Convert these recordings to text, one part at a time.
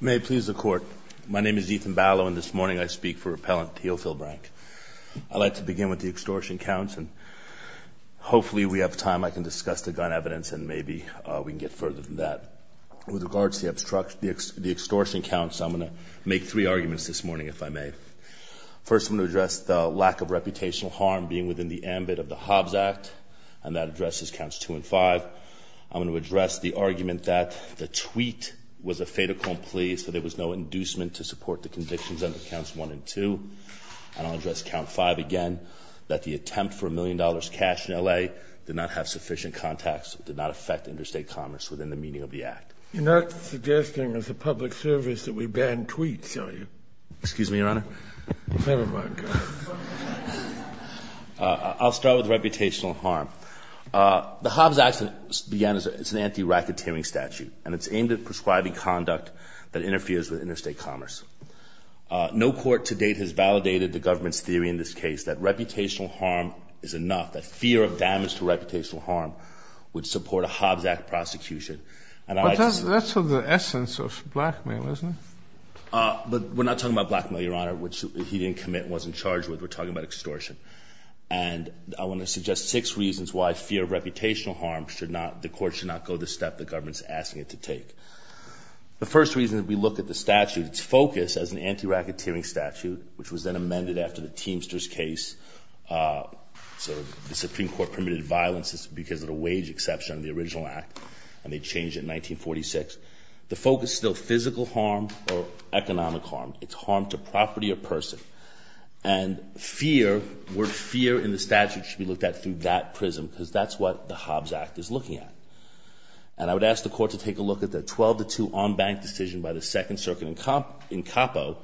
May it please the Court, my name is Ethan Ballow and this morning I speak for repellent Teofil Brank. I'd like to begin with the extortion counts and hopefully we have time I can discuss the gun evidence and maybe we can get further than that. With regards to the extortion counts, I'm going to make three arguments this morning if I may. First, I'm going to address the lack of reputational harm being within the ambit of the Hobbs Act and that addresses counts 2 and 5. I'm going to address the argument that the tweet was a fait accompli so there was no inducement to support the convictions under counts 1 and 2. And I'll address count 5 again, that the attempt for a million dollars cash in L.A. did not have sufficient context, did not affect interstate commerce within the meaning of the act. You're not suggesting as a public service that we ban tweets, are you? Excuse me, Your Honor. Never mind. I'll start with reputational harm. The Hobbs Act began as an anti-racketeering statute and it's aimed at prescribing conduct that interferes with interstate commerce. No court to date has validated the government's theory in this case that reputational harm is enough, that fear of damage to reputational harm would support a Hobbs Act prosecution. But that's of the essence of blackmail, isn't it? But we're not talking about blackmail, Your Honor, which he didn't commit, wasn't charged with. We're talking about extortion. And I want to suggest six reasons why fear of reputational harm should not, the court should not go the step the government's asking it to take. The first reason, if we look at the statute, it's focused as an anti-racketeering statute, which was then amended after the Teamsters case. So the Supreme Court permitted violence because of the wage exception of the original act and they changed it in 1946. The focus is still physical harm or economic harm. It's harm to property or person. And fear, the word fear in the statute should be looked at through that prism because that's what the Hobbs Act is looking at. And I would ask the court to take a look at the 12-2 unbanked decision by the Second Circuit in Capo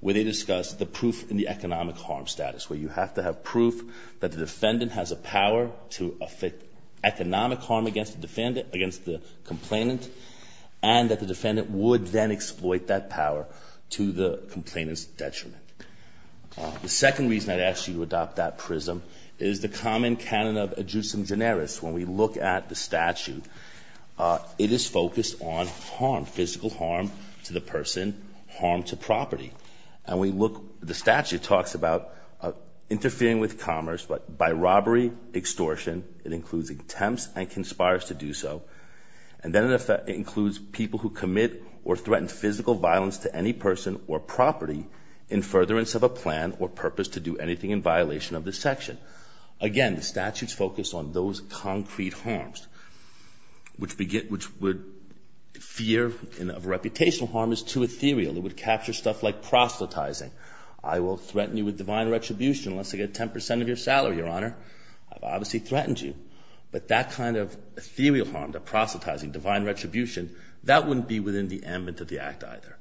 where they discussed the proof in the economic harm status, where you have to have proof that the defendant has a power to affect economic harm against the defendant, against the complainant, and that the defendant would then exploit that power to the complainant's detriment. The second reason I'd ask you to adopt that prism is the common canon of adjucem generis. When we look at the statute, it is focused on harm, physical harm to the person, harm to property. And we look, the statute talks about interfering with commerce by robbery, extortion. It includes attempts and conspires to do so. And then it includes people who commit or threaten physical violence to any person or property in furtherance of a plan or purpose to do anything in violation of this section. Again, the statute's focused on those concrete harms, which would fear of reputational harm is too ethereal. It would capture stuff like proselytizing. I will threaten you with divine retribution unless I get 10 percent of your salary, Your Honor. I've obviously threatened you. But that kind of ethereal harm, the proselytizing, divine retribution, that wouldn't be within the ambit of the act either.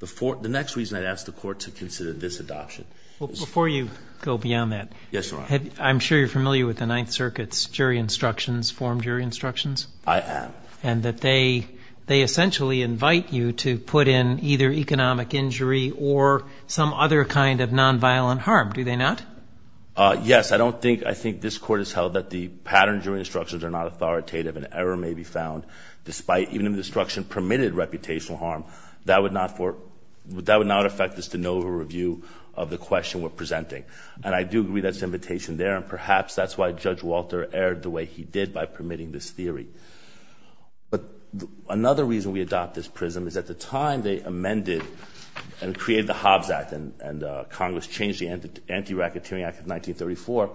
The next reason I'd ask the court to consider this adoption is – Well, before you go beyond that – Yes, Your Honor. I'm sure you're familiar with the Ninth Circuit's jury instructions, forum jury instructions. I am. And that they essentially invite you to put in either economic injury or some other kind of nonviolent harm. Do they not? Yes. I don't think – I think this court has held that the pattern jury instructions are not authoritative and error may be found, despite even if the instruction permitted reputational harm. That would not affect this to no review of the question we're presenting. And I do agree that's an invitation there. And perhaps that's why Judge Walter erred the way he did by permitting this theory. But another reason we adopt this prism is at the time they amended and created the Hobbs Act and Congress changed the Anti-Racketeering Act of 1934,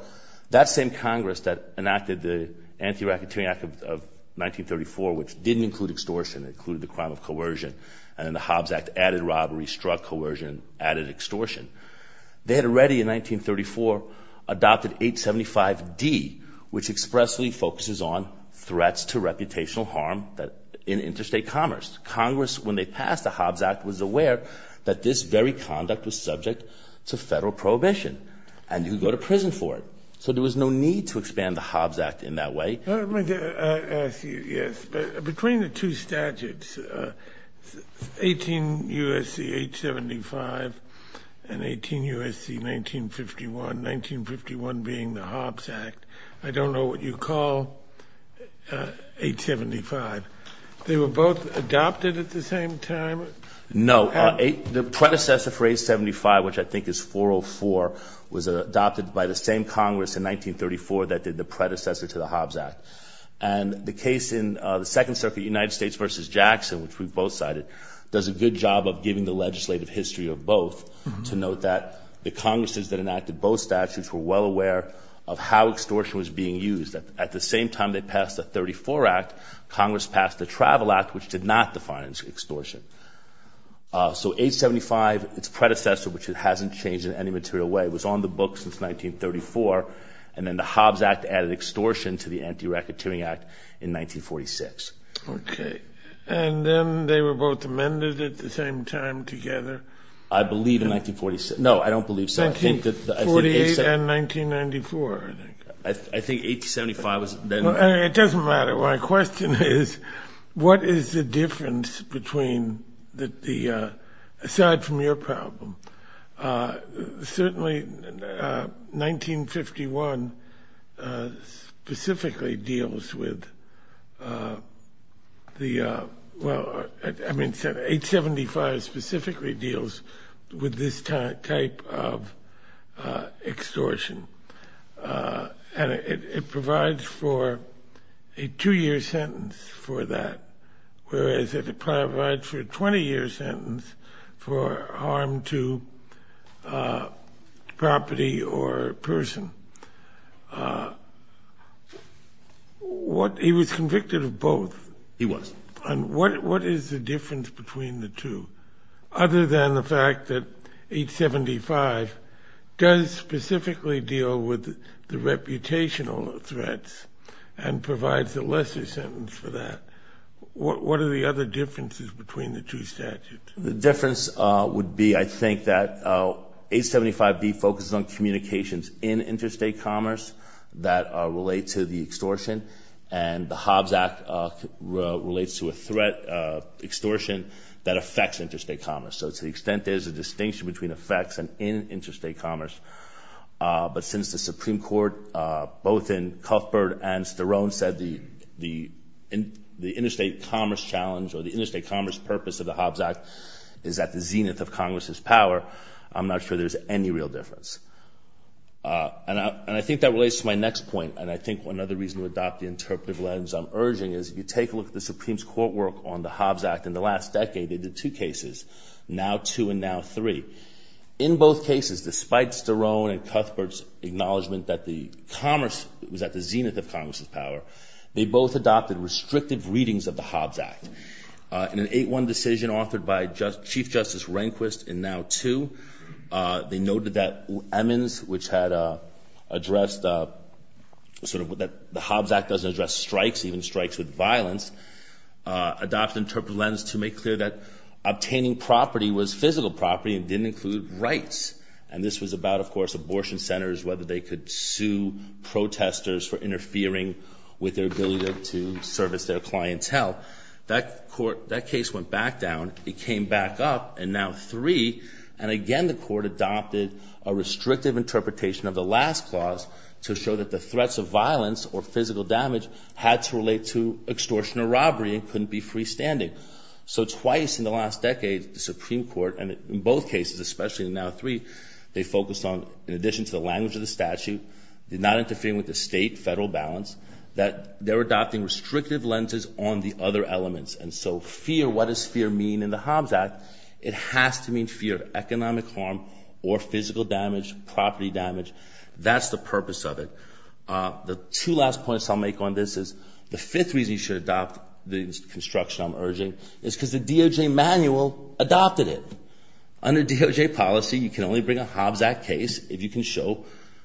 that same Congress that enacted the Anti-Racketeering Act of 1934, which didn't include extortion. It included the crime of coercion. And then the Hobbs Act added robbery, struck coercion, added extortion. They had already in 1934 adopted 875D, which expressly focuses on threats to reputational harm in interstate commerce. Congress, when they passed the Hobbs Act, was aware that this very conduct was subject to federal prohibition and could go to prison for it. So there was no need to expand the Hobbs Act in that way. Let me ask you, yes. Between the two statutes, 18 U.S.C. 875 and 18 U.S.C. 1951, 1951 being the Hobbs Act, I don't know what you call 875. They were both adopted at the same time? No. The predecessor for 875, which I think is 404, was adopted by the same Congress in 1934 that did the predecessor to the Hobbs Act. And the case in the Second Circuit, United States v. Jackson, which we've both cited, does a good job of giving the legislative history of both to note that the Congresses that enacted both statutes were well aware of how extortion was being used. At the same time they passed the 34 Act, Congress passed the Travel Act, which did not define extortion. So 875, its predecessor, which it hasn't changed in any material way, was on the books since 1934, and then the Hobbs Act added extortion to the Anti-Racketeering Act in 1946. Okay. And then they were both amended at the same time together? I believe in 1946. No, I don't believe so. 1948 and 1994, I think. I think 875 was then. It doesn't matter. My question is, what is the difference between the, aside from your problem, certainly 1951 specifically deals with the, well, I mean 875 specifically deals with this type of extortion. And it provides for a two-year sentence for that, whereas it provides for a 20-year sentence for harm to property or person. He was convicted of both. He was. And what is the difference between the two, other than the fact that 875 does specifically deal with the reputational threats and provides a lesser sentence for that? What are the other differences between the two statutes? The difference would be, I think, that 875B focuses on communications in interstate commerce that relate to the extortion, and the Hobbs Act relates to a threat of extortion that affects interstate commerce. So to the extent there's a distinction between effects and in interstate commerce, but since the Supreme Court, both in Cuthbert and Sterone, said the interstate commerce challenge or the interstate commerce purpose of the Hobbs Act is at the zenith of Congress's power, I'm not sure there's any real difference. And I think that relates to my next point. And I think another reason to adopt the interpretive lens I'm urging is, if you take a look at the Supreme Court work on the Hobbs Act in the last decade, they did two cases, NOW 2 and NOW 3. In both cases, despite Sterone and Cuthbert's acknowledgment that the commerce was at the zenith of Congress's power, they both adopted restrictive readings of the Hobbs Act. In an 8-1 decision authored by Chief Justice Rehnquist in NOW 2, they noted that Emmons, which had addressed sort of that the Hobbs Act doesn't address strikes, even strikes with violence, adopted an interpretive lens to make clear that obtaining property was physical property and didn't include rights. And this was about, of course, abortion centers, whether they could sue protesters for interfering with their ability to service their clientele. That court, that case went back down. It came back up in NOW 3. And again, the court adopted a restrictive interpretation of the last clause to show that the threats of violence or physical damage had to relate to extortion or robbery and couldn't be freestanding. So twice in the last decade, the Supreme Court, and in both cases, especially in NOW 3, they focused on, in addition to the language of the statute, did not interfere with the state-federal balance, that they're adopting restrictive lenses on the other elements. And so fear, what does fear mean in the Hobbs Act? It has to mean fear of economic harm or physical damage, property damage. That's the purpose of it. The two last points I'll make on this is the fifth reason you should adopt the construction I'm urging is because the DOJ manual adopted it. Under DOJ policy, you can only bring a Hobbs Act case if you can show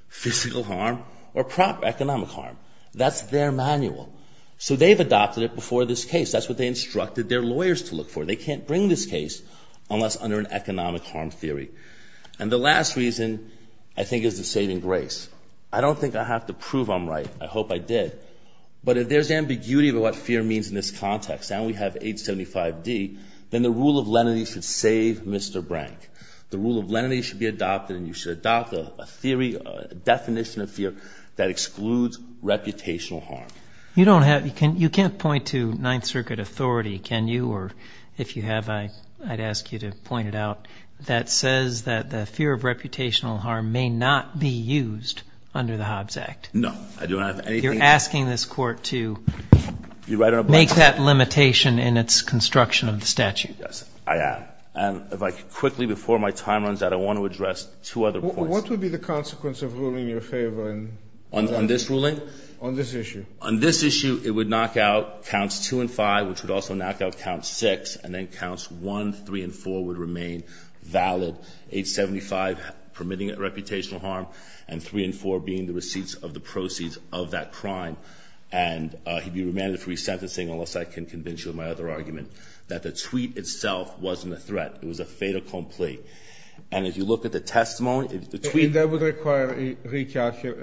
physical harm or proper economic harm. That's their manual. So they've adopted it before this case. That's what they instructed their lawyers to look for. They can't bring this case unless under an economic harm theory. And the last reason, I think, is the saving grace. I don't think I have to prove I'm right. I hope I did. But if there's ambiguity about what fear means in this context, and we have 875D, then the rule of lenity should save Mr. Brank. The rule of lenity should be adopted, and you should adopt a theory, a definition of fear that excludes reputational harm. You can't point to Ninth Circuit authority, can you? Or if you have, I'd ask you to point it out. That says that the fear of reputational harm may not be used under the Hobbs Act. No. You're asking this Court to make that limitation in its construction of the statute. Yes, I am. And if I could quickly, before my time runs out, I want to address two other points. What would be the consequence of ruling in your favor? On this ruling? On this issue. On this issue, it would knock out counts 2 and 5, which would also knock out counts 6, and then counts 1, 3, and 4 would remain valid, 875 permitting reputational harm, and 3 and 4 being the receipts of the proceeds of that crime. And he'd be remanded for resentencing, unless I can convince you of my other argument, that the tweet itself wasn't a threat. It was a fait accompli. And if you look at the testimony, the tweet – That would require a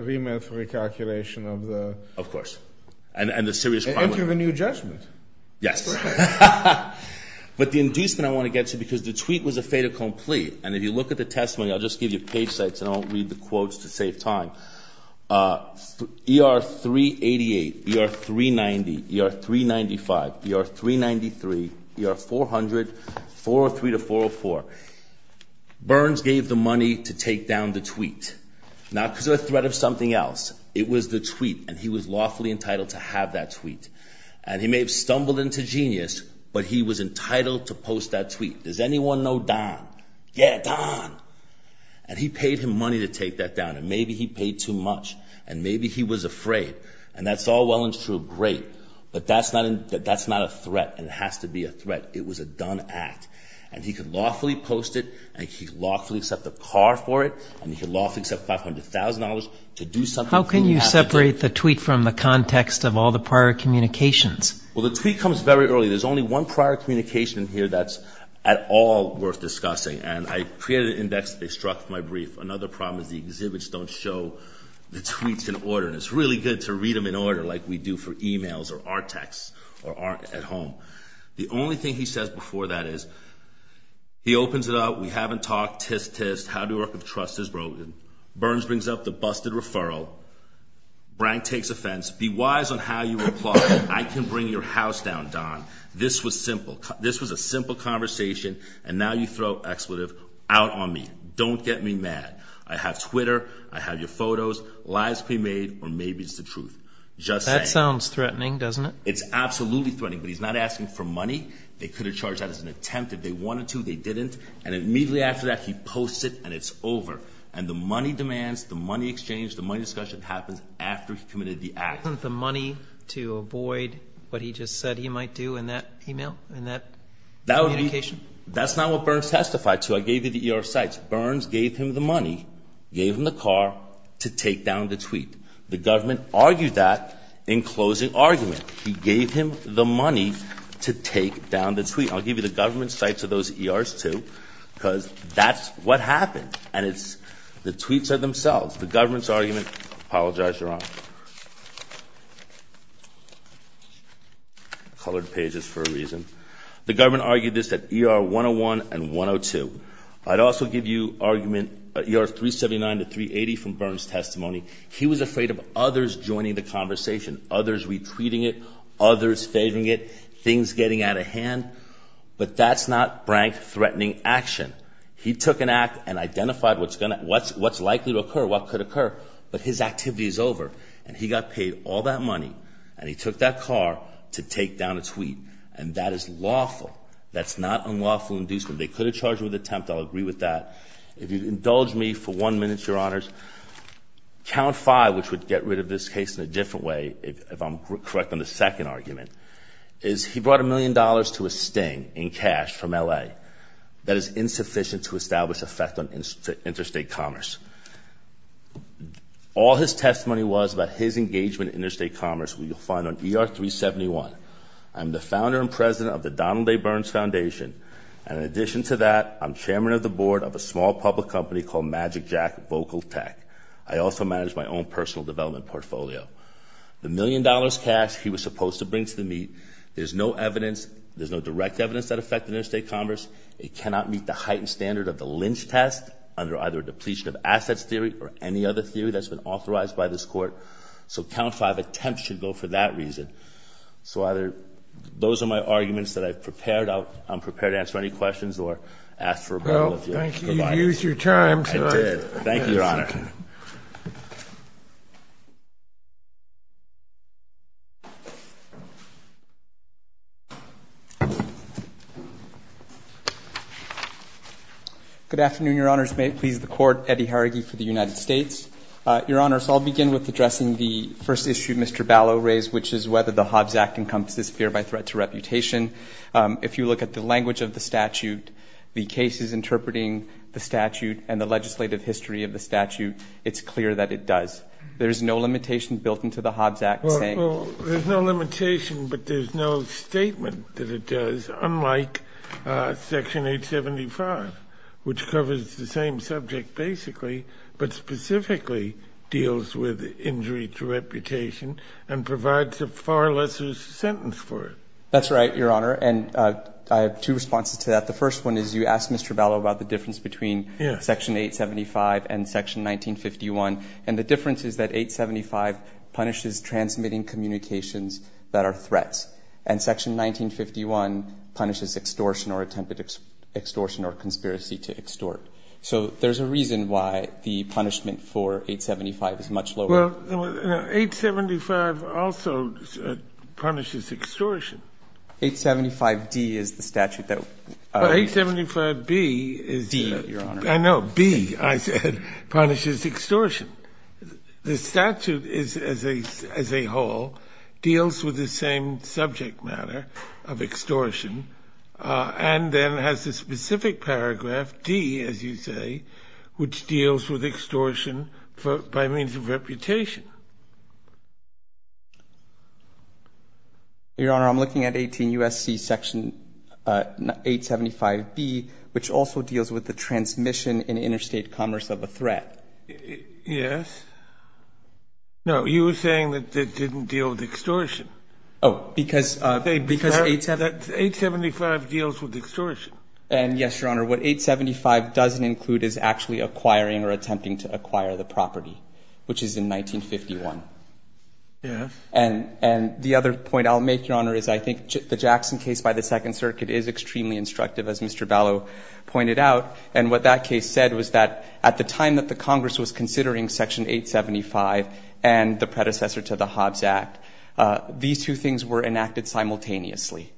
remand for recalculation of the – Of course. And the serious – Into the new judgment. Yes. But the inducement I want to get to, because the tweet was a fait accompli, and if you look at the testimony, I'll just give you page sites, and I'll read the quotes to save time. ER 388, ER 390, ER 395, ER 393, ER 400, 403 to 404. Burns gave the money to take down the tweet, not because it was a threat of something else. It was the tweet, and he was lawfully entitled to have that tweet. And he may have stumbled into genius, but he was entitled to post that tweet. Does anyone know Don? Yeah, Don. And he paid him money to take that down, and maybe he paid too much, and maybe he was afraid. And that's all well and true, great. But that's not a threat, and it has to be a threat. It was a done act. And he could lawfully post it, and he could lawfully accept a car for it, and he could lawfully accept $500,000 to do something – How can you separate the tweet from the context of all the prior communications? Well, the tweet comes very early. There's only one prior communication here that's at all worth discussing, and I created an index that they struck for my brief. Another problem is the exhibits don't show the tweets in order, and it's really good to read them in order like we do for e-mails or our texts at home. The only thing he says before that is he opens it up. We haven't talked. Tsk, tsk. How to work with trust is broken. Burns brings up the busted referral. Brank takes offense. Be wise on how you reply. I can bring your house down, Don. This was simple. This was a simple conversation, and now you throw expletive out on me. Don't get me mad. I have Twitter. I have your photos. Lies can be made, or maybe it's the truth. Just saying. That sounds threatening, doesn't it? It's absolutely threatening, but he's not asking for money. They could have charged that as an attempt. If they wanted to, they didn't. And immediately after that, he posts it, and it's over. And the money demands, the money exchange, the money discussion happens after he committed the act. Isn't that the money to avoid what he just said he might do in that email, in that communication? That's not what Burns testified to. I gave you the ER sites. Burns gave him the money, gave him the car to take down the tweet. The government argued that in closing argument. He gave him the money to take down the tweet. I'll give you the government sites of those ERs, too, because that's what happened. And it's the tweets are themselves. The government's argument. Apologize, you're on. Colored pages for a reason. The government argued this at ER 101 and 102. I'd also give you argument at ER 379 to 380 from Burns' testimony. He was afraid of others joining the conversation, others retweeting it, others favoring it, things getting out of hand. But that's not brank threatening action. He took an act and identified what's likely to occur, what could occur. But his activity is over. And he got paid all that money. And he took that car to take down a tweet. And that is lawful. That's not unlawful inducement. They could have charged him with attempt. I'll agree with that. If you indulge me for one minute, your honors, count five, which would get rid of this case in a different way, if I'm correct on the second argument, is he brought a million dollars to a sting in cash from L.A. That is insufficient to establish effect on interstate commerce. All his testimony was about his engagement in interstate commerce, which you'll find on ER 371. I'm the founder and president of the Donald A. Burns Foundation. And in addition to that, I'm chairman of the board of a small public company called MagicJack Vocal Tech. I also manage my own personal development portfolio. The million dollars cash he was supposed to bring to the meet, there's no evidence, there's no direct evidence that affected interstate commerce. It cannot meet the heightened standard of the lynch test under either a depletion of assets theory or any other theory that's been authorized by this court. So count five, attempt should go for that reason. So either those are my arguments that I've prepared. I'm prepared to answer any questions or ask for a vote. Well, thank you. I did. Thank you, your honor. Thank you. Good afternoon, your honors. May it please the court. Eddie Haragy for the United States. Your honors, I'll begin with addressing the first issue Mr. Ballot raised, which is whether the Hobbs Act encompasses fear by threat to reputation. If you look at the language of the statute, the cases interpreting the statute, and the legislative history of the statute, it's clear that it does. There's no limitation built into the Hobbs Act saying. There's no limitation, but there's no statement that it does, unlike section 875, which covers the same subject basically, but specifically deals with injury to reputation and provides a far lesser sentence for it. That's right, your honor. And I have two responses to that. The first one is you asked Mr. Ballot about the difference between section 875 and section 1951. And the difference is that 875 punishes transmitting communications that are threats, and section 1951 punishes extortion or attempted extortion or conspiracy to extort. So there's a reason why the punishment for 875 is much lower. Well, 875 also punishes extortion. 875d is the statute that we use. D, your honor. I know. B, I said, punishes extortion. The statute is, as a whole, deals with the same subject matter of extortion and then has a specific paragraph, D, as you say, which deals with extortion by means of reputation. Your honor, I'm looking at 18 U.S.C. section 875b, which also deals with the transmission in interstate commerce of a threat. Yes. No, you were saying that it didn't deal with extortion. Oh, because 875 deals with extortion. And, yes, your honor, what 875 doesn't include is actually acquiring or attempting to acquire the property, which is in 1951. Yes. And the other point I'll make, your honor, is I think the Jackson case by the Second Circuit is extremely instructive, as Mr. Ballot pointed out. And what that case said was that at the time that the Congress was considering section 875 and the predecessor to the Hobbs Act, these two things were enacted simultaneously.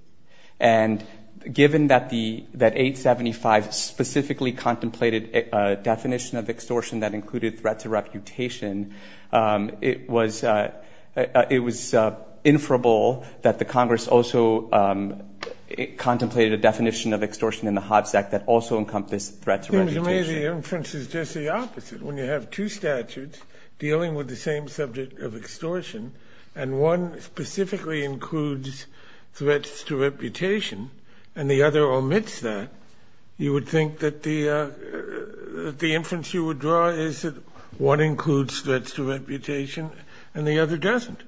And given that 875 specifically contemplated a definition of extortion that included threats of reputation, it was inferable that the Congress also contemplated a definition of extortion that included threats of reputation. It seems to me the inference is just the opposite. When you have two statutes dealing with the same subject of extortion and one specifically includes threats to reputation and the other omits that, you would think that the inference you would draw is that one includes threats to reputation and the other doesn't.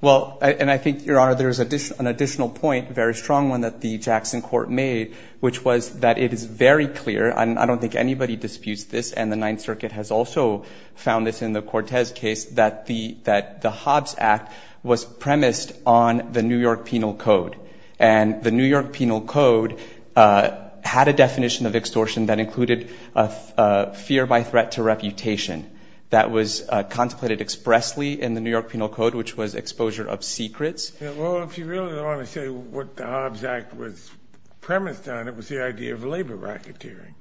Well, and I think, your honor, there's an additional point, a very strong one, that the Jackson court made, which was that it is very clear, and I don't think anybody disputes this, and the Ninth Circuit has also found this in the Cortez case, that the Hobbs Act was premised on the New York Penal Code. And the New York Penal Code had a definition of extortion that included fear by threat to reputation. That was contemplated expressly in the New York Penal Code, which was exposure of secrets. Well, if you really want to say what the Hobbs Act was premised on, it was the idea of labor racketeering.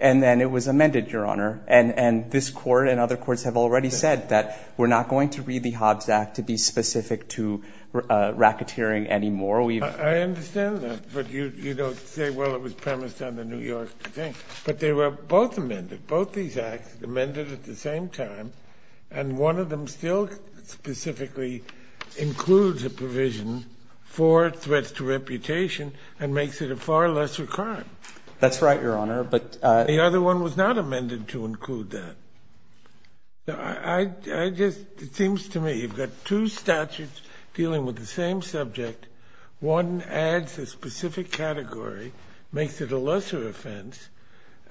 And then it was amended, your honor. And this court and other courts have already said that we're not going to read the Hobbs Act to be specific to racketeering anymore. I understand that, but you don't say, well, it was premised on the New York thing. But they were both amended, both these acts amended at the same time, and one of them still specifically includes a provision for threats to reputation and makes it a far lesser crime. That's right, your honor. The other one was not amended to include that. I just, it seems to me you've got two statutes dealing with the same subject. One adds a specific category, makes it a lesser offense,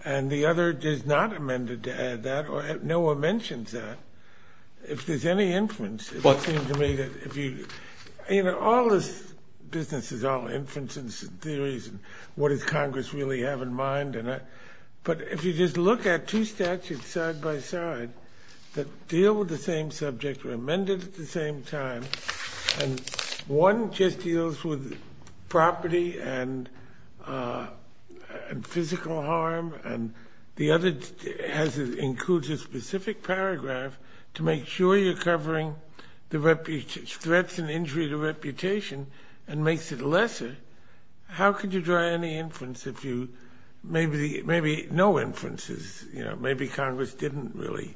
and the other is not amended to add that, or no one mentions that. If there's any inference, it seems to me that if you, you know, all this business is all inference and theories and what does Congress really have in mind. But if you just look at two statutes side by side that deal with the same subject, are amended at the same time, and one just deals with property and physical harm, and the other includes a specific paragraph to make sure you're covering threats and injury to reputation and makes it lesser, how could you draw any inference if you, maybe no inferences, you know, maybe Congress didn't really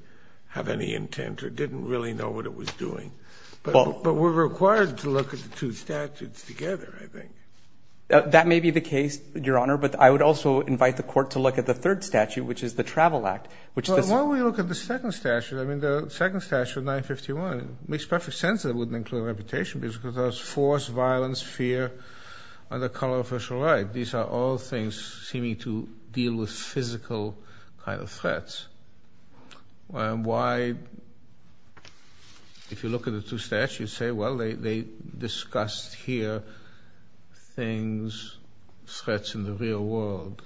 have any intent or didn't really know what it was doing. But we're required to look at the two statutes together, I think. That may be the case, Your Honor, but I would also invite the court to look at the third statute, which is the Travel Act. Well, why don't we look at the second statute? I mean, the second statute, 951, makes perfect sense that it wouldn't include reputation because it has force, violence, fear, and the color of official right. These are all things seeming to deal with physical kind of threats. And why, if you look at the two statutes, you say, well, they discussed here things, threats in the real world,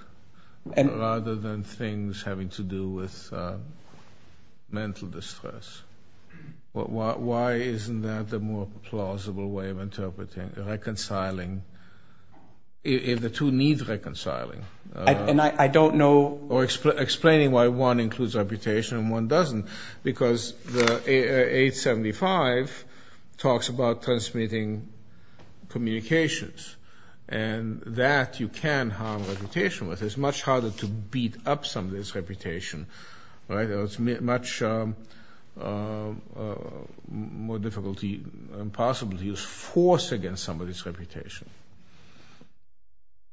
rather than things having to do with mental distress. Why isn't that the more plausible way of interpreting, reconciling, if the two need reconciling? And I don't know. Or explaining why one includes reputation and one doesn't. Because 875 talks about transmitting communications, and that you can harm reputation with. It's much harder to beat up somebody's reputation, right? It's much more difficult and possible to use force against somebody's reputation.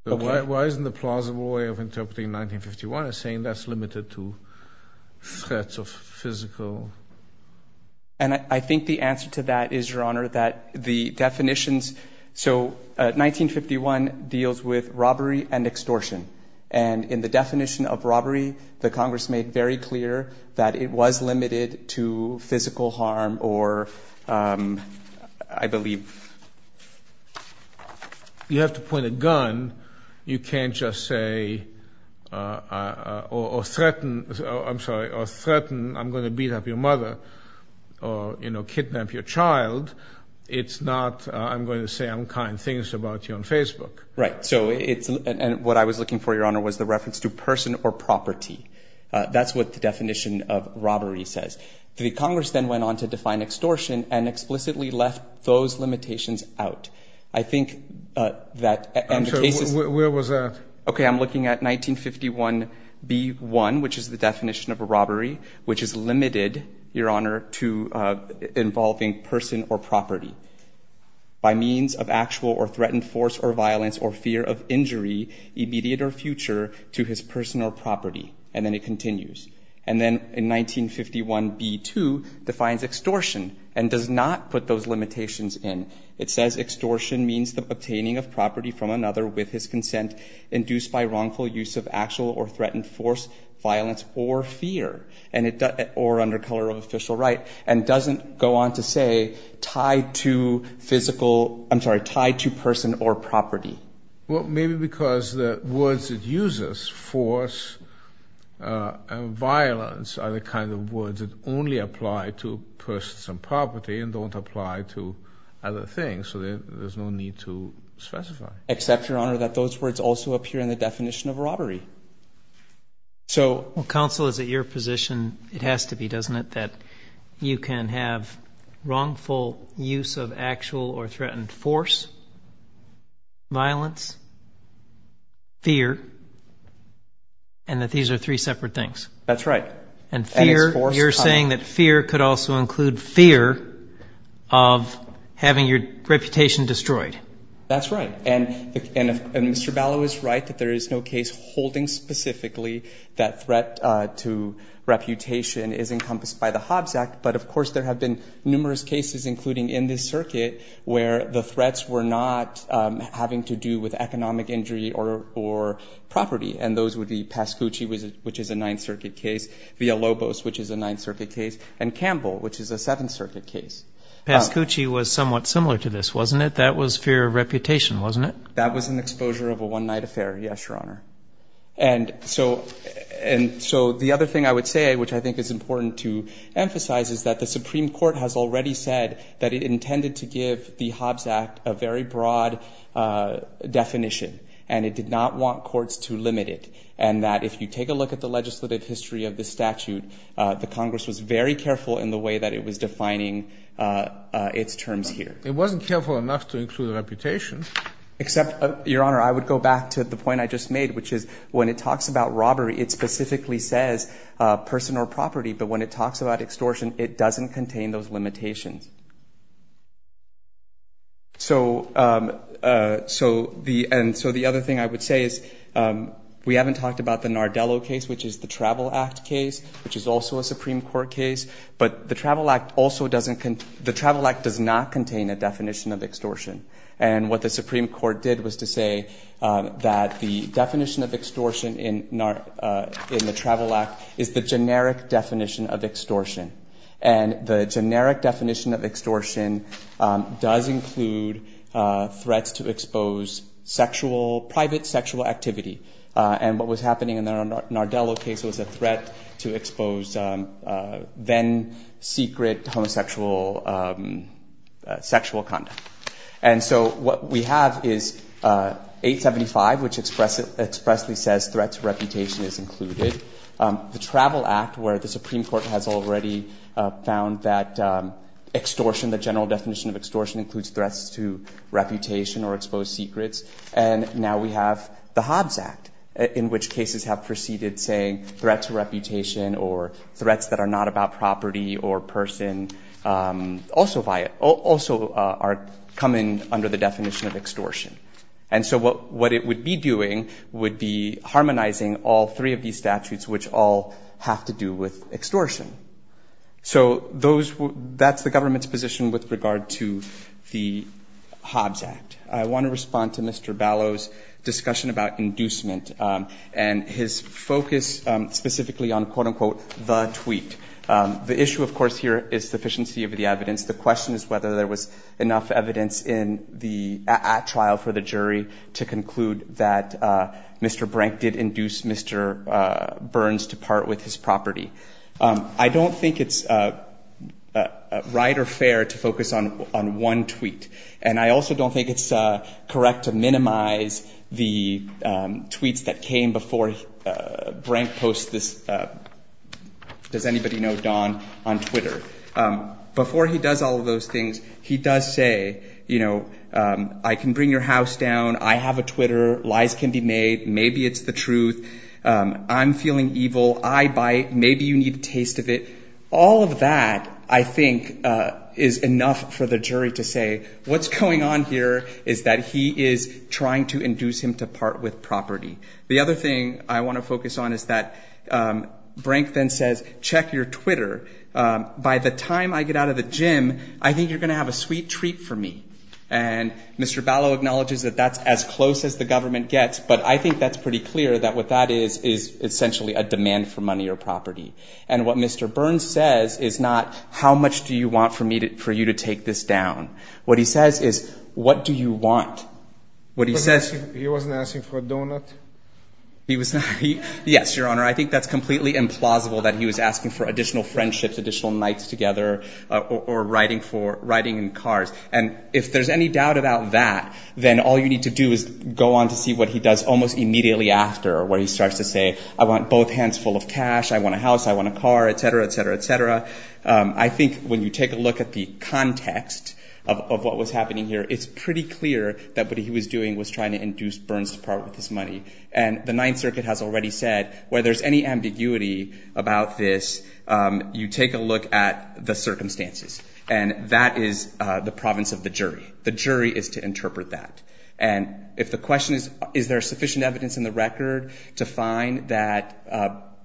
Why isn't the plausible way of interpreting 951 as saying that's limited to threats of physical? And I think the answer to that is, Your Honor, that the definitions. So, 1951 deals with robbery and extortion. And in the definition of robbery, the Congress made very clear that it was limited to physical harm or, I believe. You have to point a gun. You can't just say, or threaten, I'm sorry, or threaten, I'm going to beat up your mother or, you know, kidnap your child. It's not, I'm going to say unkind things about you on Facebook. Right. So, it's, and what I was looking for, Your Honor, was the reference to person or property. That's what the definition of robbery says. The Congress then went on to define extortion and explicitly left those limitations out. I think that. I'm sorry, where was that? Okay, I'm looking at 1951B1, which is the definition of a robbery, which is limited, Your Honor, to involving person or property. By means of actual or threatened force or violence or fear of injury, immediate or future, to his person or property. And then it continues. And then in 1951B2 defines extortion and does not put those limitations in. It says extortion means the obtaining of property from another with his consent induced by wrongful use of actual or threatened force, violence, or fear, or under color of official right, and doesn't go on to say tied to physical, I'm sorry, tied to person or property. Well, maybe because the words it uses, force and violence, are the kind of words that only apply to persons and property and don't apply to other things, so there's no need to specify. Except, Your Honor, that those words also appear in the definition of robbery. Well, counsel, is it your position, it has to be, doesn't it, that you can have wrongful use of actual or threatened force, violence, fear, and that these are three separate things? That's right. And fear, you're saying that fear could also include fear of having your reputation destroyed. That's right. And Mr. Ballow is right that there is no case holding specifically that threat to reputation is encompassed by the Hobbs Act, but of course there have been numerous cases, including in this circuit, where the threats were not having to do with economic injury or property, and those would be Pascucci, which is a Ninth Circuit case, Villalobos, which is a Ninth Circuit case, and Campbell, which is a Seventh Circuit case. Pascucci was somewhat similar to this, wasn't it? But that was fear of reputation, wasn't it? That was an exposure of a one-night affair, yes, Your Honor. And so the other thing I would say, which I think is important to emphasize, is that the Supreme Court has already said that it intended to give the Hobbs Act a very broad definition, and it did not want courts to limit it, and that if you take a look at the legislative history of the statute, the Congress was very careful in the way that it was defining its terms here. It wasn't careful enough to include reputation. Except, Your Honor, I would go back to the point I just made, which is when it talks about robbery, it specifically says person or property, but when it talks about extortion, it doesn't contain those limitations. So the other thing I would say is we haven't talked about the Nardello case, which is the Travel Act case, which is also a Supreme Court case, but the Travel Act does not contain a definition of extortion. And what the Supreme Court did was to say that the definition of extortion in the Travel Act is the generic definition of extortion. And the generic definition of extortion does include threats to expose private sexual activity. And what was happening in the Nardello case was a threat to expose then-secret homosexual sexual conduct. And so what we have is 875, which expressly says threats to reputation is included. The Travel Act, where the Supreme Court has already found that extortion, the general definition of extortion includes threats to reputation or exposed secrets. And now we have the Hobbs Act, in which cases have preceded saying threats to reputation or threats that are not about property or person also come in under the definition of extortion. And so what it would be doing would be harmonizing all three of these statutes, which all have to do with extortion. So that's the government's position with regard to the Hobbs Act. I want to respond to Mr. Ballot's discussion about inducement and his focus specifically on, quote, unquote, the tweet. The issue, of course, here is sufficiency of the evidence. The question is whether there was enough evidence in the at-trial for the jury to conclude that Mr. Brank did induce Mr. Burns to part with his property. I don't think it's right or fair to focus on one tweet. And I also don't think it's correct to minimize the tweets that came before Brank posts this, does anybody know Don, on Twitter. Before he does all of those things, he does say, you know, I can bring your house down. I have a Twitter. Lies can be made. Maybe it's the truth. I'm feeling evil. I bite. Maybe you need a taste of it. All of that, I think, is enough for the jury to say what's going on here is that he is trying to induce him to part with property. The other thing I want to focus on is that Brank then says, check your Twitter. By the time I get out of the gym, I think you're going to have a sweet treat for me. And Mr. Ballot acknowledges that that's as close as the government gets, but I think that's pretty clear that what that is is essentially a demand for money or property. And what Mr. Burns says is not, how much do you want for you to take this down? What he says is, what do you want? He wasn't asking for a donut? Yes, Your Honor, I think that's completely implausible that he was asking for additional friendships, additional nights together, or riding in cars. And if there's any doubt about that, then all you need to do is go on to see what he does almost immediately after, where he starts to say, I want both hands full of cash, I want a house, I want a car, et cetera, et cetera, et cetera. I think when you take a look at the context of what was happening here, it's pretty clear that what he was doing was trying to induce Burns to part with his money. And the Ninth Circuit has already said, where there's any ambiguity about this, you take a look at the circumstances. And that is the province of the jury. The jury is to interpret that. And if the question is, is there sufficient evidence in the record to find that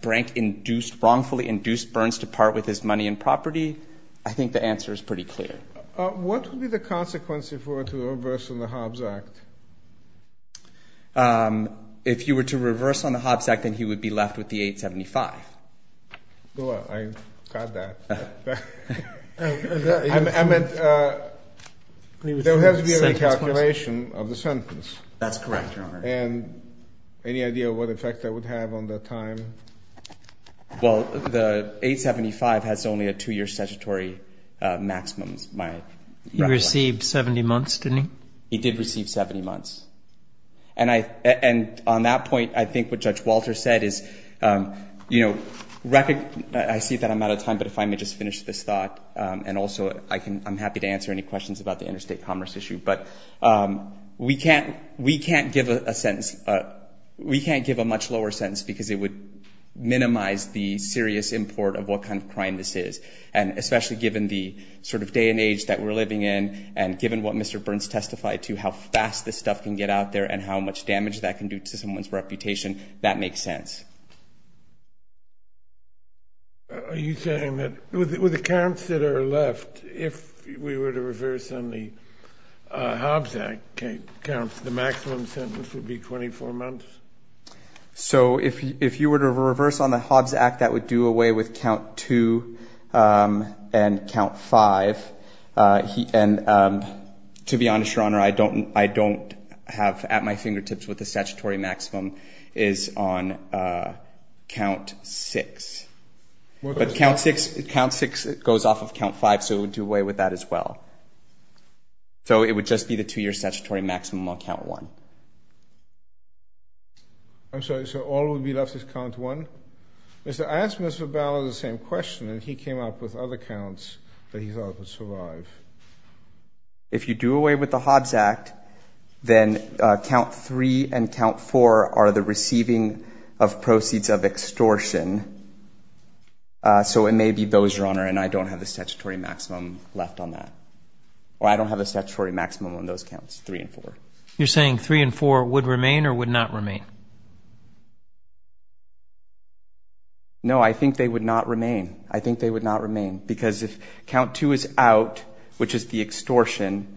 Brank induced, wrongfully induced Burns to part with his money and property, I think the answer is pretty clear. What would be the consequence if we were to reverse on the Hobbs Act? If you were to reverse on the Hobbs Act, then he would be left with the 875. I got that. I meant there has to be a recalculation of the sentence. That's correct, Your Honor. And any idea what effect that would have on the time? Well, the 875 has only a two-year statutory maximum, my recollection. He received 70 months, didn't he? He did receive 70 months. And on that point, I think what Judge Walter said is, you know, I see that I'm out of time, but if I may just finish this thought, and also I'm happy to answer any questions about the interstate commerce issue. But we can't give a much lower sentence because it would minimize the serious import of what kind of crime this is. And especially given the sort of day and age that we're living in, and given what Mr. Burns testified to, how fast this stuff can get out there and how much damage that can do to someone's reputation, that makes sense. Are you saying that with the counts that are left, if we were to reverse on the Hobbs Act counts, the maximum sentence would be 24 months? So if you were to reverse on the Hobbs Act, that would do away with count two and count five. And to be honest, Your Honor, I don't have at my fingertips what the statutory maximum is on the Hobbs Act. Count six. But count six goes off of count five, so it would do away with that as well. So it would just be the two-year statutory maximum on count one. I'm sorry, so all that would be left is count one? I asked Mr. Bauer the same question, and he came up with other counts that he thought would survive. If you do away with the Hobbs Act, then count three and count four are the receiving of proceeds of extortion. So it may be those, Your Honor, and I don't have the statutory maximum left on that. Or I don't have the statutory maximum on those counts, three and four. You're saying three and four would remain or would not remain? No, I think they would not remain. I think they would not remain because if count two is out, which is the extortion,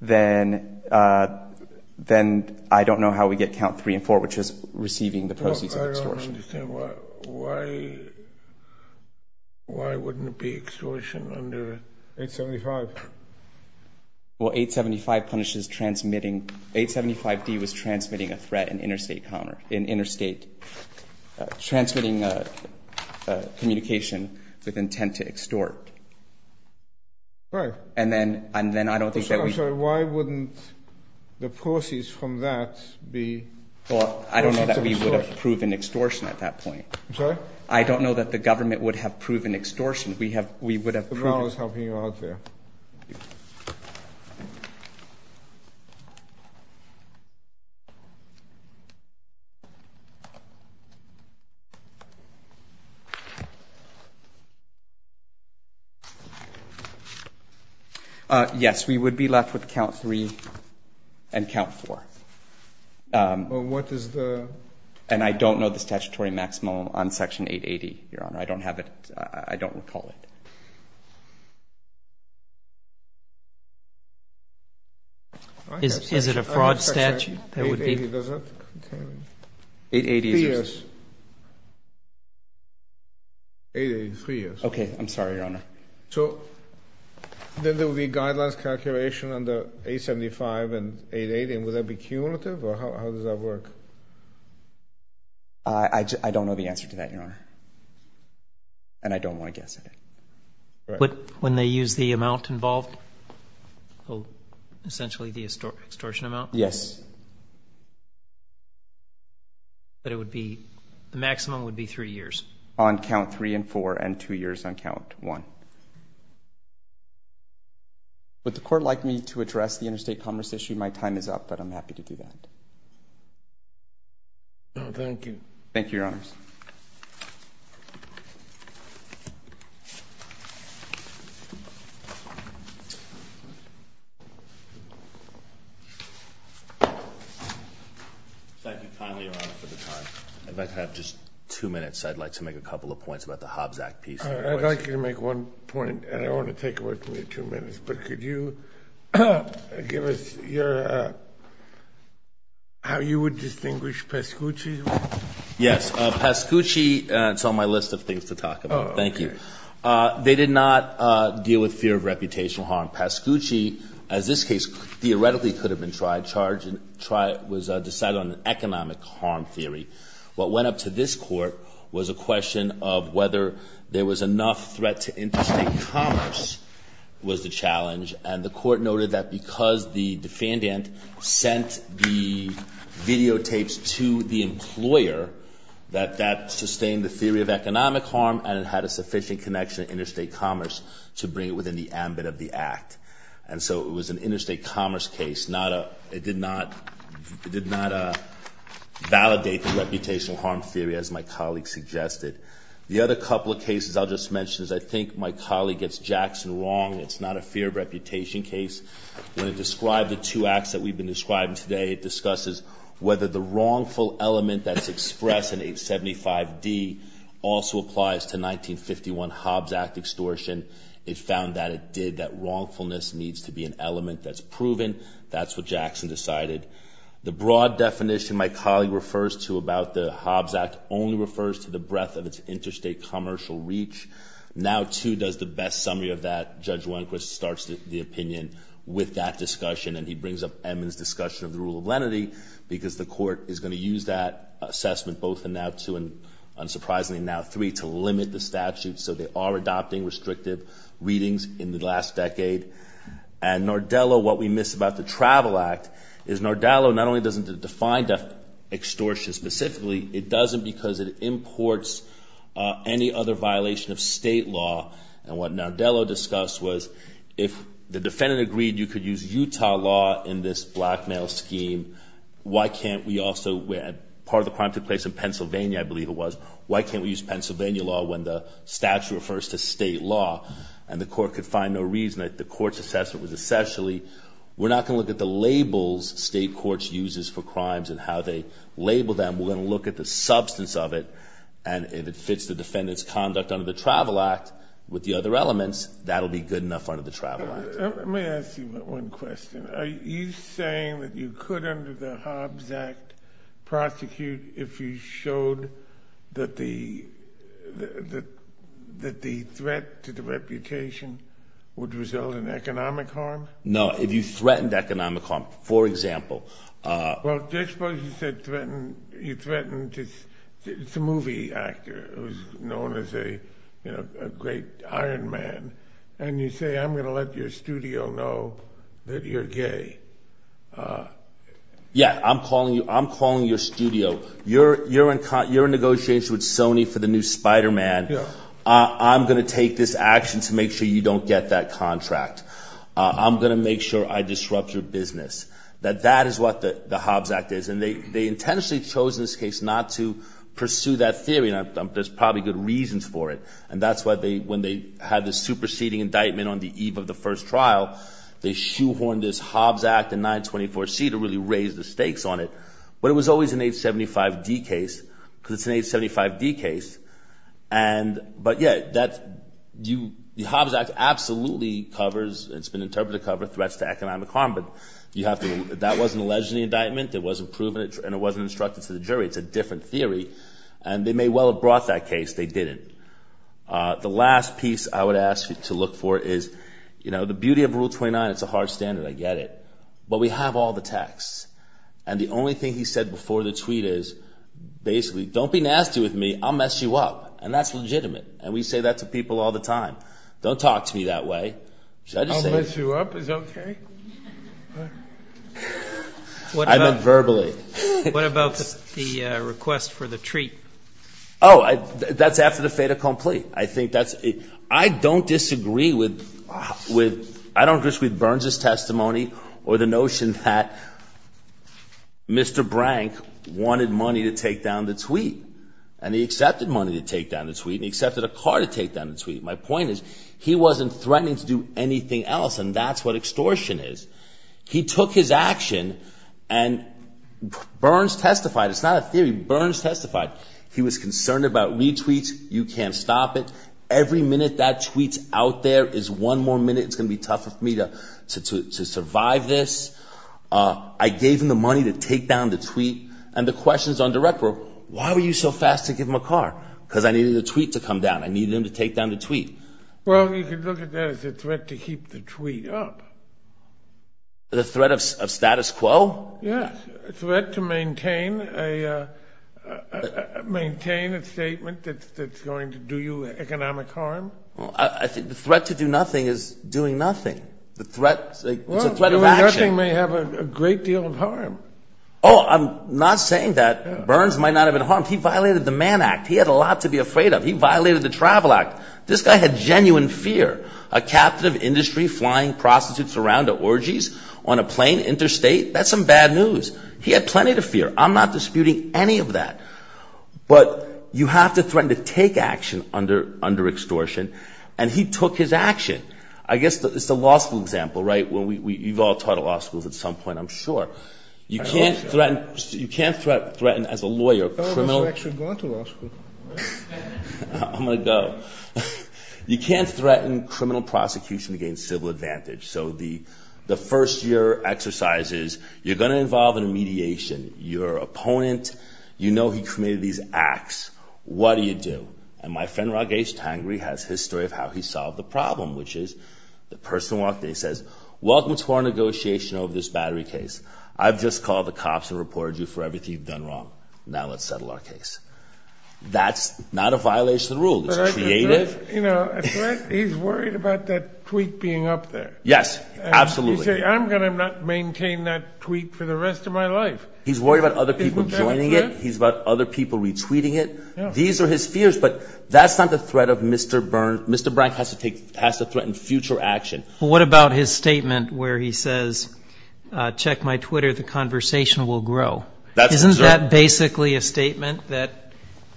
then I don't know how we get count three and four, which is receiving the proceeds of extortion. I don't understand. Why wouldn't it be extortion under 875? Well, 875 punishes transmitting. 875D was transmitting a threat in interstate, transmitting communication with intent to extort. Right. And then I don't think that we – I'm sorry, why wouldn't the proceeds from that be – Well, I don't know that we would have proven extortion at that point. I'm sorry? I don't know that the government would have proven extortion. We would have proven – Mr. Bauer is helping you out there. Thank you. Yes, we would be left with count three and count four. Well, what is the – And I don't know the statutory maximum on Section 880, Your Honor. I don't have it. I don't recall it. Is it a fraud statute that would be – 880, does that contain – 880 is – Three years. 880, three years. Okay. I'm sorry, Your Honor. So then there would be guidelines calculation under 875 and 880, and would that be cumulative, or how does that work? I don't know the answer to that, Your Honor. And I don't want to guess at it. When they use the amount involved, essentially the extortion amount? Yes. But it would be – the maximum would be three years? On count three and four and two years on count one. Would the Court like me to address the interstate commerce issue? My time is up, but I'm happy to do that. Thank you. Thank you, Your Honors. Thank you kindly, Your Honor, for the time. If I could have just two minutes, I'd like to make a couple of points about the Hobbs Act piece. I'd like you to make one point, and I don't want to take away from your two minutes, but could you give us your – how you would distinguish Pascucci? Yes. Pascucci, it's on my list of things to talk about. Thank you. They did not deal with fear of reputational harm. Pascucci, as this case theoretically could have been tried, was decided on an economic harm theory. What went up to this Court was a question of whether there was enough threat to interstate commerce was the challenge, and the Court noted that because the defendant sent the videotapes to the employer, that that sustained the theory of economic harm, and it had a sufficient connection to interstate commerce to bring it within the ambit of the Act. And so it was an interstate commerce case. It did not validate the reputational harm theory, as my colleague suggested. The other couple of cases I'll just mention is I think my colleague gets Jackson wrong. It's not a fear of reputation case. When it described the two acts that we've been describing today, it discusses whether the wrongful element that's expressed in 875D also applies to 1951 Hobbs Act extortion. It found that it did. That wrongfulness needs to be an element that's proven. That's what Jackson decided. The broad definition my colleague refers to about the Hobbs Act only refers to the breadth of its interstate commercial reach. Now, too, does the best summary of that. Judge Wenquist starts the opinion with that discussion, and he brings up Edmunds' discussion of the rule of lenity because the Court is going to use that assessment, both in now two and, unsurprisingly, now three, to limit the statute. So they are adopting restrictive readings in the last decade. And Nardello, what we miss about the Travel Act is Nardello not only doesn't define extortion specifically, it doesn't because it imports any other violation of state law. And what Nardello discussed was if the defendant agreed you could use Utah law in this blackmail scheme, why can't we also – part of the crime took place in Pennsylvania, I believe it was. Why can't we use Pennsylvania law when the statute refers to state law? And the Court could find no reason that the Court's assessment was essentially, we're not going to look at the labels state courts uses for crimes and how they label them. We're going to look at the substance of it, and if it fits the defendant's conduct under the Travel Act with the other elements, that will be good enough under the Travel Act. Let me ask you one question. Are you saying that you could, under the Hobbs Act, prosecute if you showed that the threat to the reputation would result in economic harm? No, if you threatened economic harm, for example. Well, I suppose you said threatened – you threatened – it's a movie actor who's known as a great iron man. And you say I'm going to let your studio know that you're gay. Yeah, I'm calling your studio. You're in negotiation with Sony for the new Spider-Man. I'm going to take this action to make sure you don't get that contract. I'm going to make sure I disrupt your business. That is what the Hobbs Act is. And they intentionally chose in this case not to pursue that theory, and there's probably good reasons for it. And that's why when they had the superseding indictment on the eve of the first trial, they shoehorned this Hobbs Act in 924C to really raise the stakes on it. But it was always an 875D case because it's an 875D case. But, yeah, the Hobbs Act absolutely covers – it's been interpreted to cover threats to economic harm. But you have to – that wasn't alleged in the indictment, it wasn't proven, and it wasn't instructed to the jury. It's a different theory. And they may well have brought that case. They didn't. The last piece I would ask you to look for is the beauty of Rule 29. It's a hard standard. I get it. But we have all the texts. And the only thing he said before the tweet is basically, don't be nasty with me, I'll mess you up. And that's legitimate. And we say that to people all the time. Don't talk to me that way. I'll mess you up. Is that okay? I meant verbally. What about the request for the treat? Oh, that's after the fait accompli. I think that's – I don't disagree with – I don't disagree with Burns' testimony or the notion that Mr. Brank wanted money to take down the tweet. And he accepted money to take down the tweet, and he accepted a car to take down the tweet. My point is he wasn't threatening to do anything else, and that's what extortion is. He took his action, and Burns testified. It's not a theory. Burns testified. He was concerned about retweets. You can't stop it. Every minute that tweet's out there is one more minute it's going to be tough for me to survive this. I gave him the money to take down the tweet. And the questions on direct were, why were you so fast to give him a car? I needed him to take down the tweet. Well, you could look at that as a threat to keep the tweet up. The threat of status quo? Yes, a threat to maintain a statement that's going to do you economic harm. I think the threat to do nothing is doing nothing. It's a threat of action. Well, doing nothing may have a great deal of harm. Oh, I'm not saying that. Burns might not have been harmed. He violated the Mann Act. He had a lot to be afraid of. He violated the Travel Act. This guy had genuine fear. A captive industry flying prostitutes around to orgies on a plane interstate? That's some bad news. He had plenty to fear. I'm not disputing any of that. But you have to threaten to take action under extortion. And he took his action. I guess it's the law school example, right? You've all taught at law schools at some point, I'm sure. You can't threaten as a lawyer, a criminal. I've also actually gone to law school. I'm going to go. You can't threaten criminal prosecution against civil advantage. So the first-year exercise is you're going to involve a mediation. You're an opponent. You know he committed these acts. What do you do? And my friend, Raghesh Tangri, has his story of how he solved the problem, which is the person walked in. He says, Welcome to our negotiation over this battery case. I've just called the cops and reported you for everything you've done wrong. Now let's settle our case. That's not a violation of the rule. It's creative. He's worried about that tweet being up there. Yes, absolutely. He said, I'm going to not maintain that tweet for the rest of my life. He's worried about other people joining it. He's about other people retweeting it. These are his fears. But that's not the threat of Mr. Brank. Mr. Brank has to threaten future action. What about his statement where he says, Check my Twitter. The conversation will grow. Isn't that basically a statement that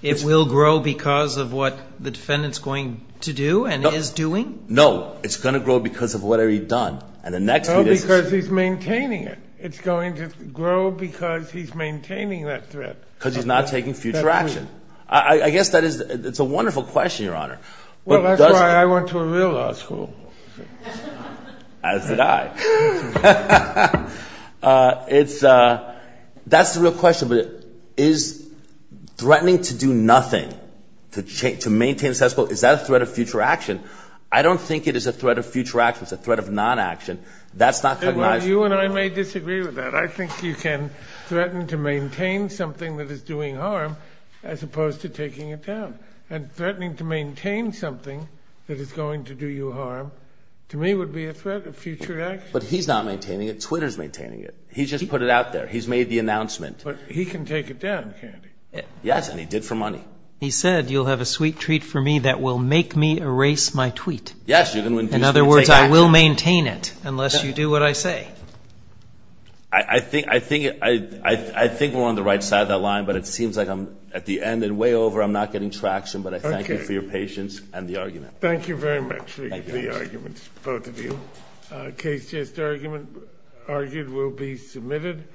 it will grow because of what the defendant's going to do and is doing? No. It's going to grow because of what he's done. No, because he's maintaining it. It's going to grow because he's maintaining that threat. Because he's not taking future action. I guess that is a wonderful question, Your Honor. Well, that's why I went to a real law school. As did I. That's the real question. But is threatening to do nothing to maintain the status quo, is that a threat of future action? I don't think it is a threat of future action. It's a threat of non-action. That's not coming out. You and I may disagree with that. I think you can threaten to maintain something that is doing harm as opposed to taking it down. And threatening to maintain something that is going to do you harm, to me, would be a threat of future action. But he's not maintaining it. Twitter's maintaining it. He just put it out there. He's made the announcement. But he can take it down, can't he? Yes, and he did for money. He said, You'll have a sweet treat for me that will make me erase my tweet. Yes, you're going to induce me to take action. In other words, I will maintain it unless you do what I say. I think we're on the right side of that line, but it seems like I'm at the end and way over. I'm not getting traction, but I thank you for your patience and the argument. Thank you very much for the arguments, both of you. Case just argued will be submitted.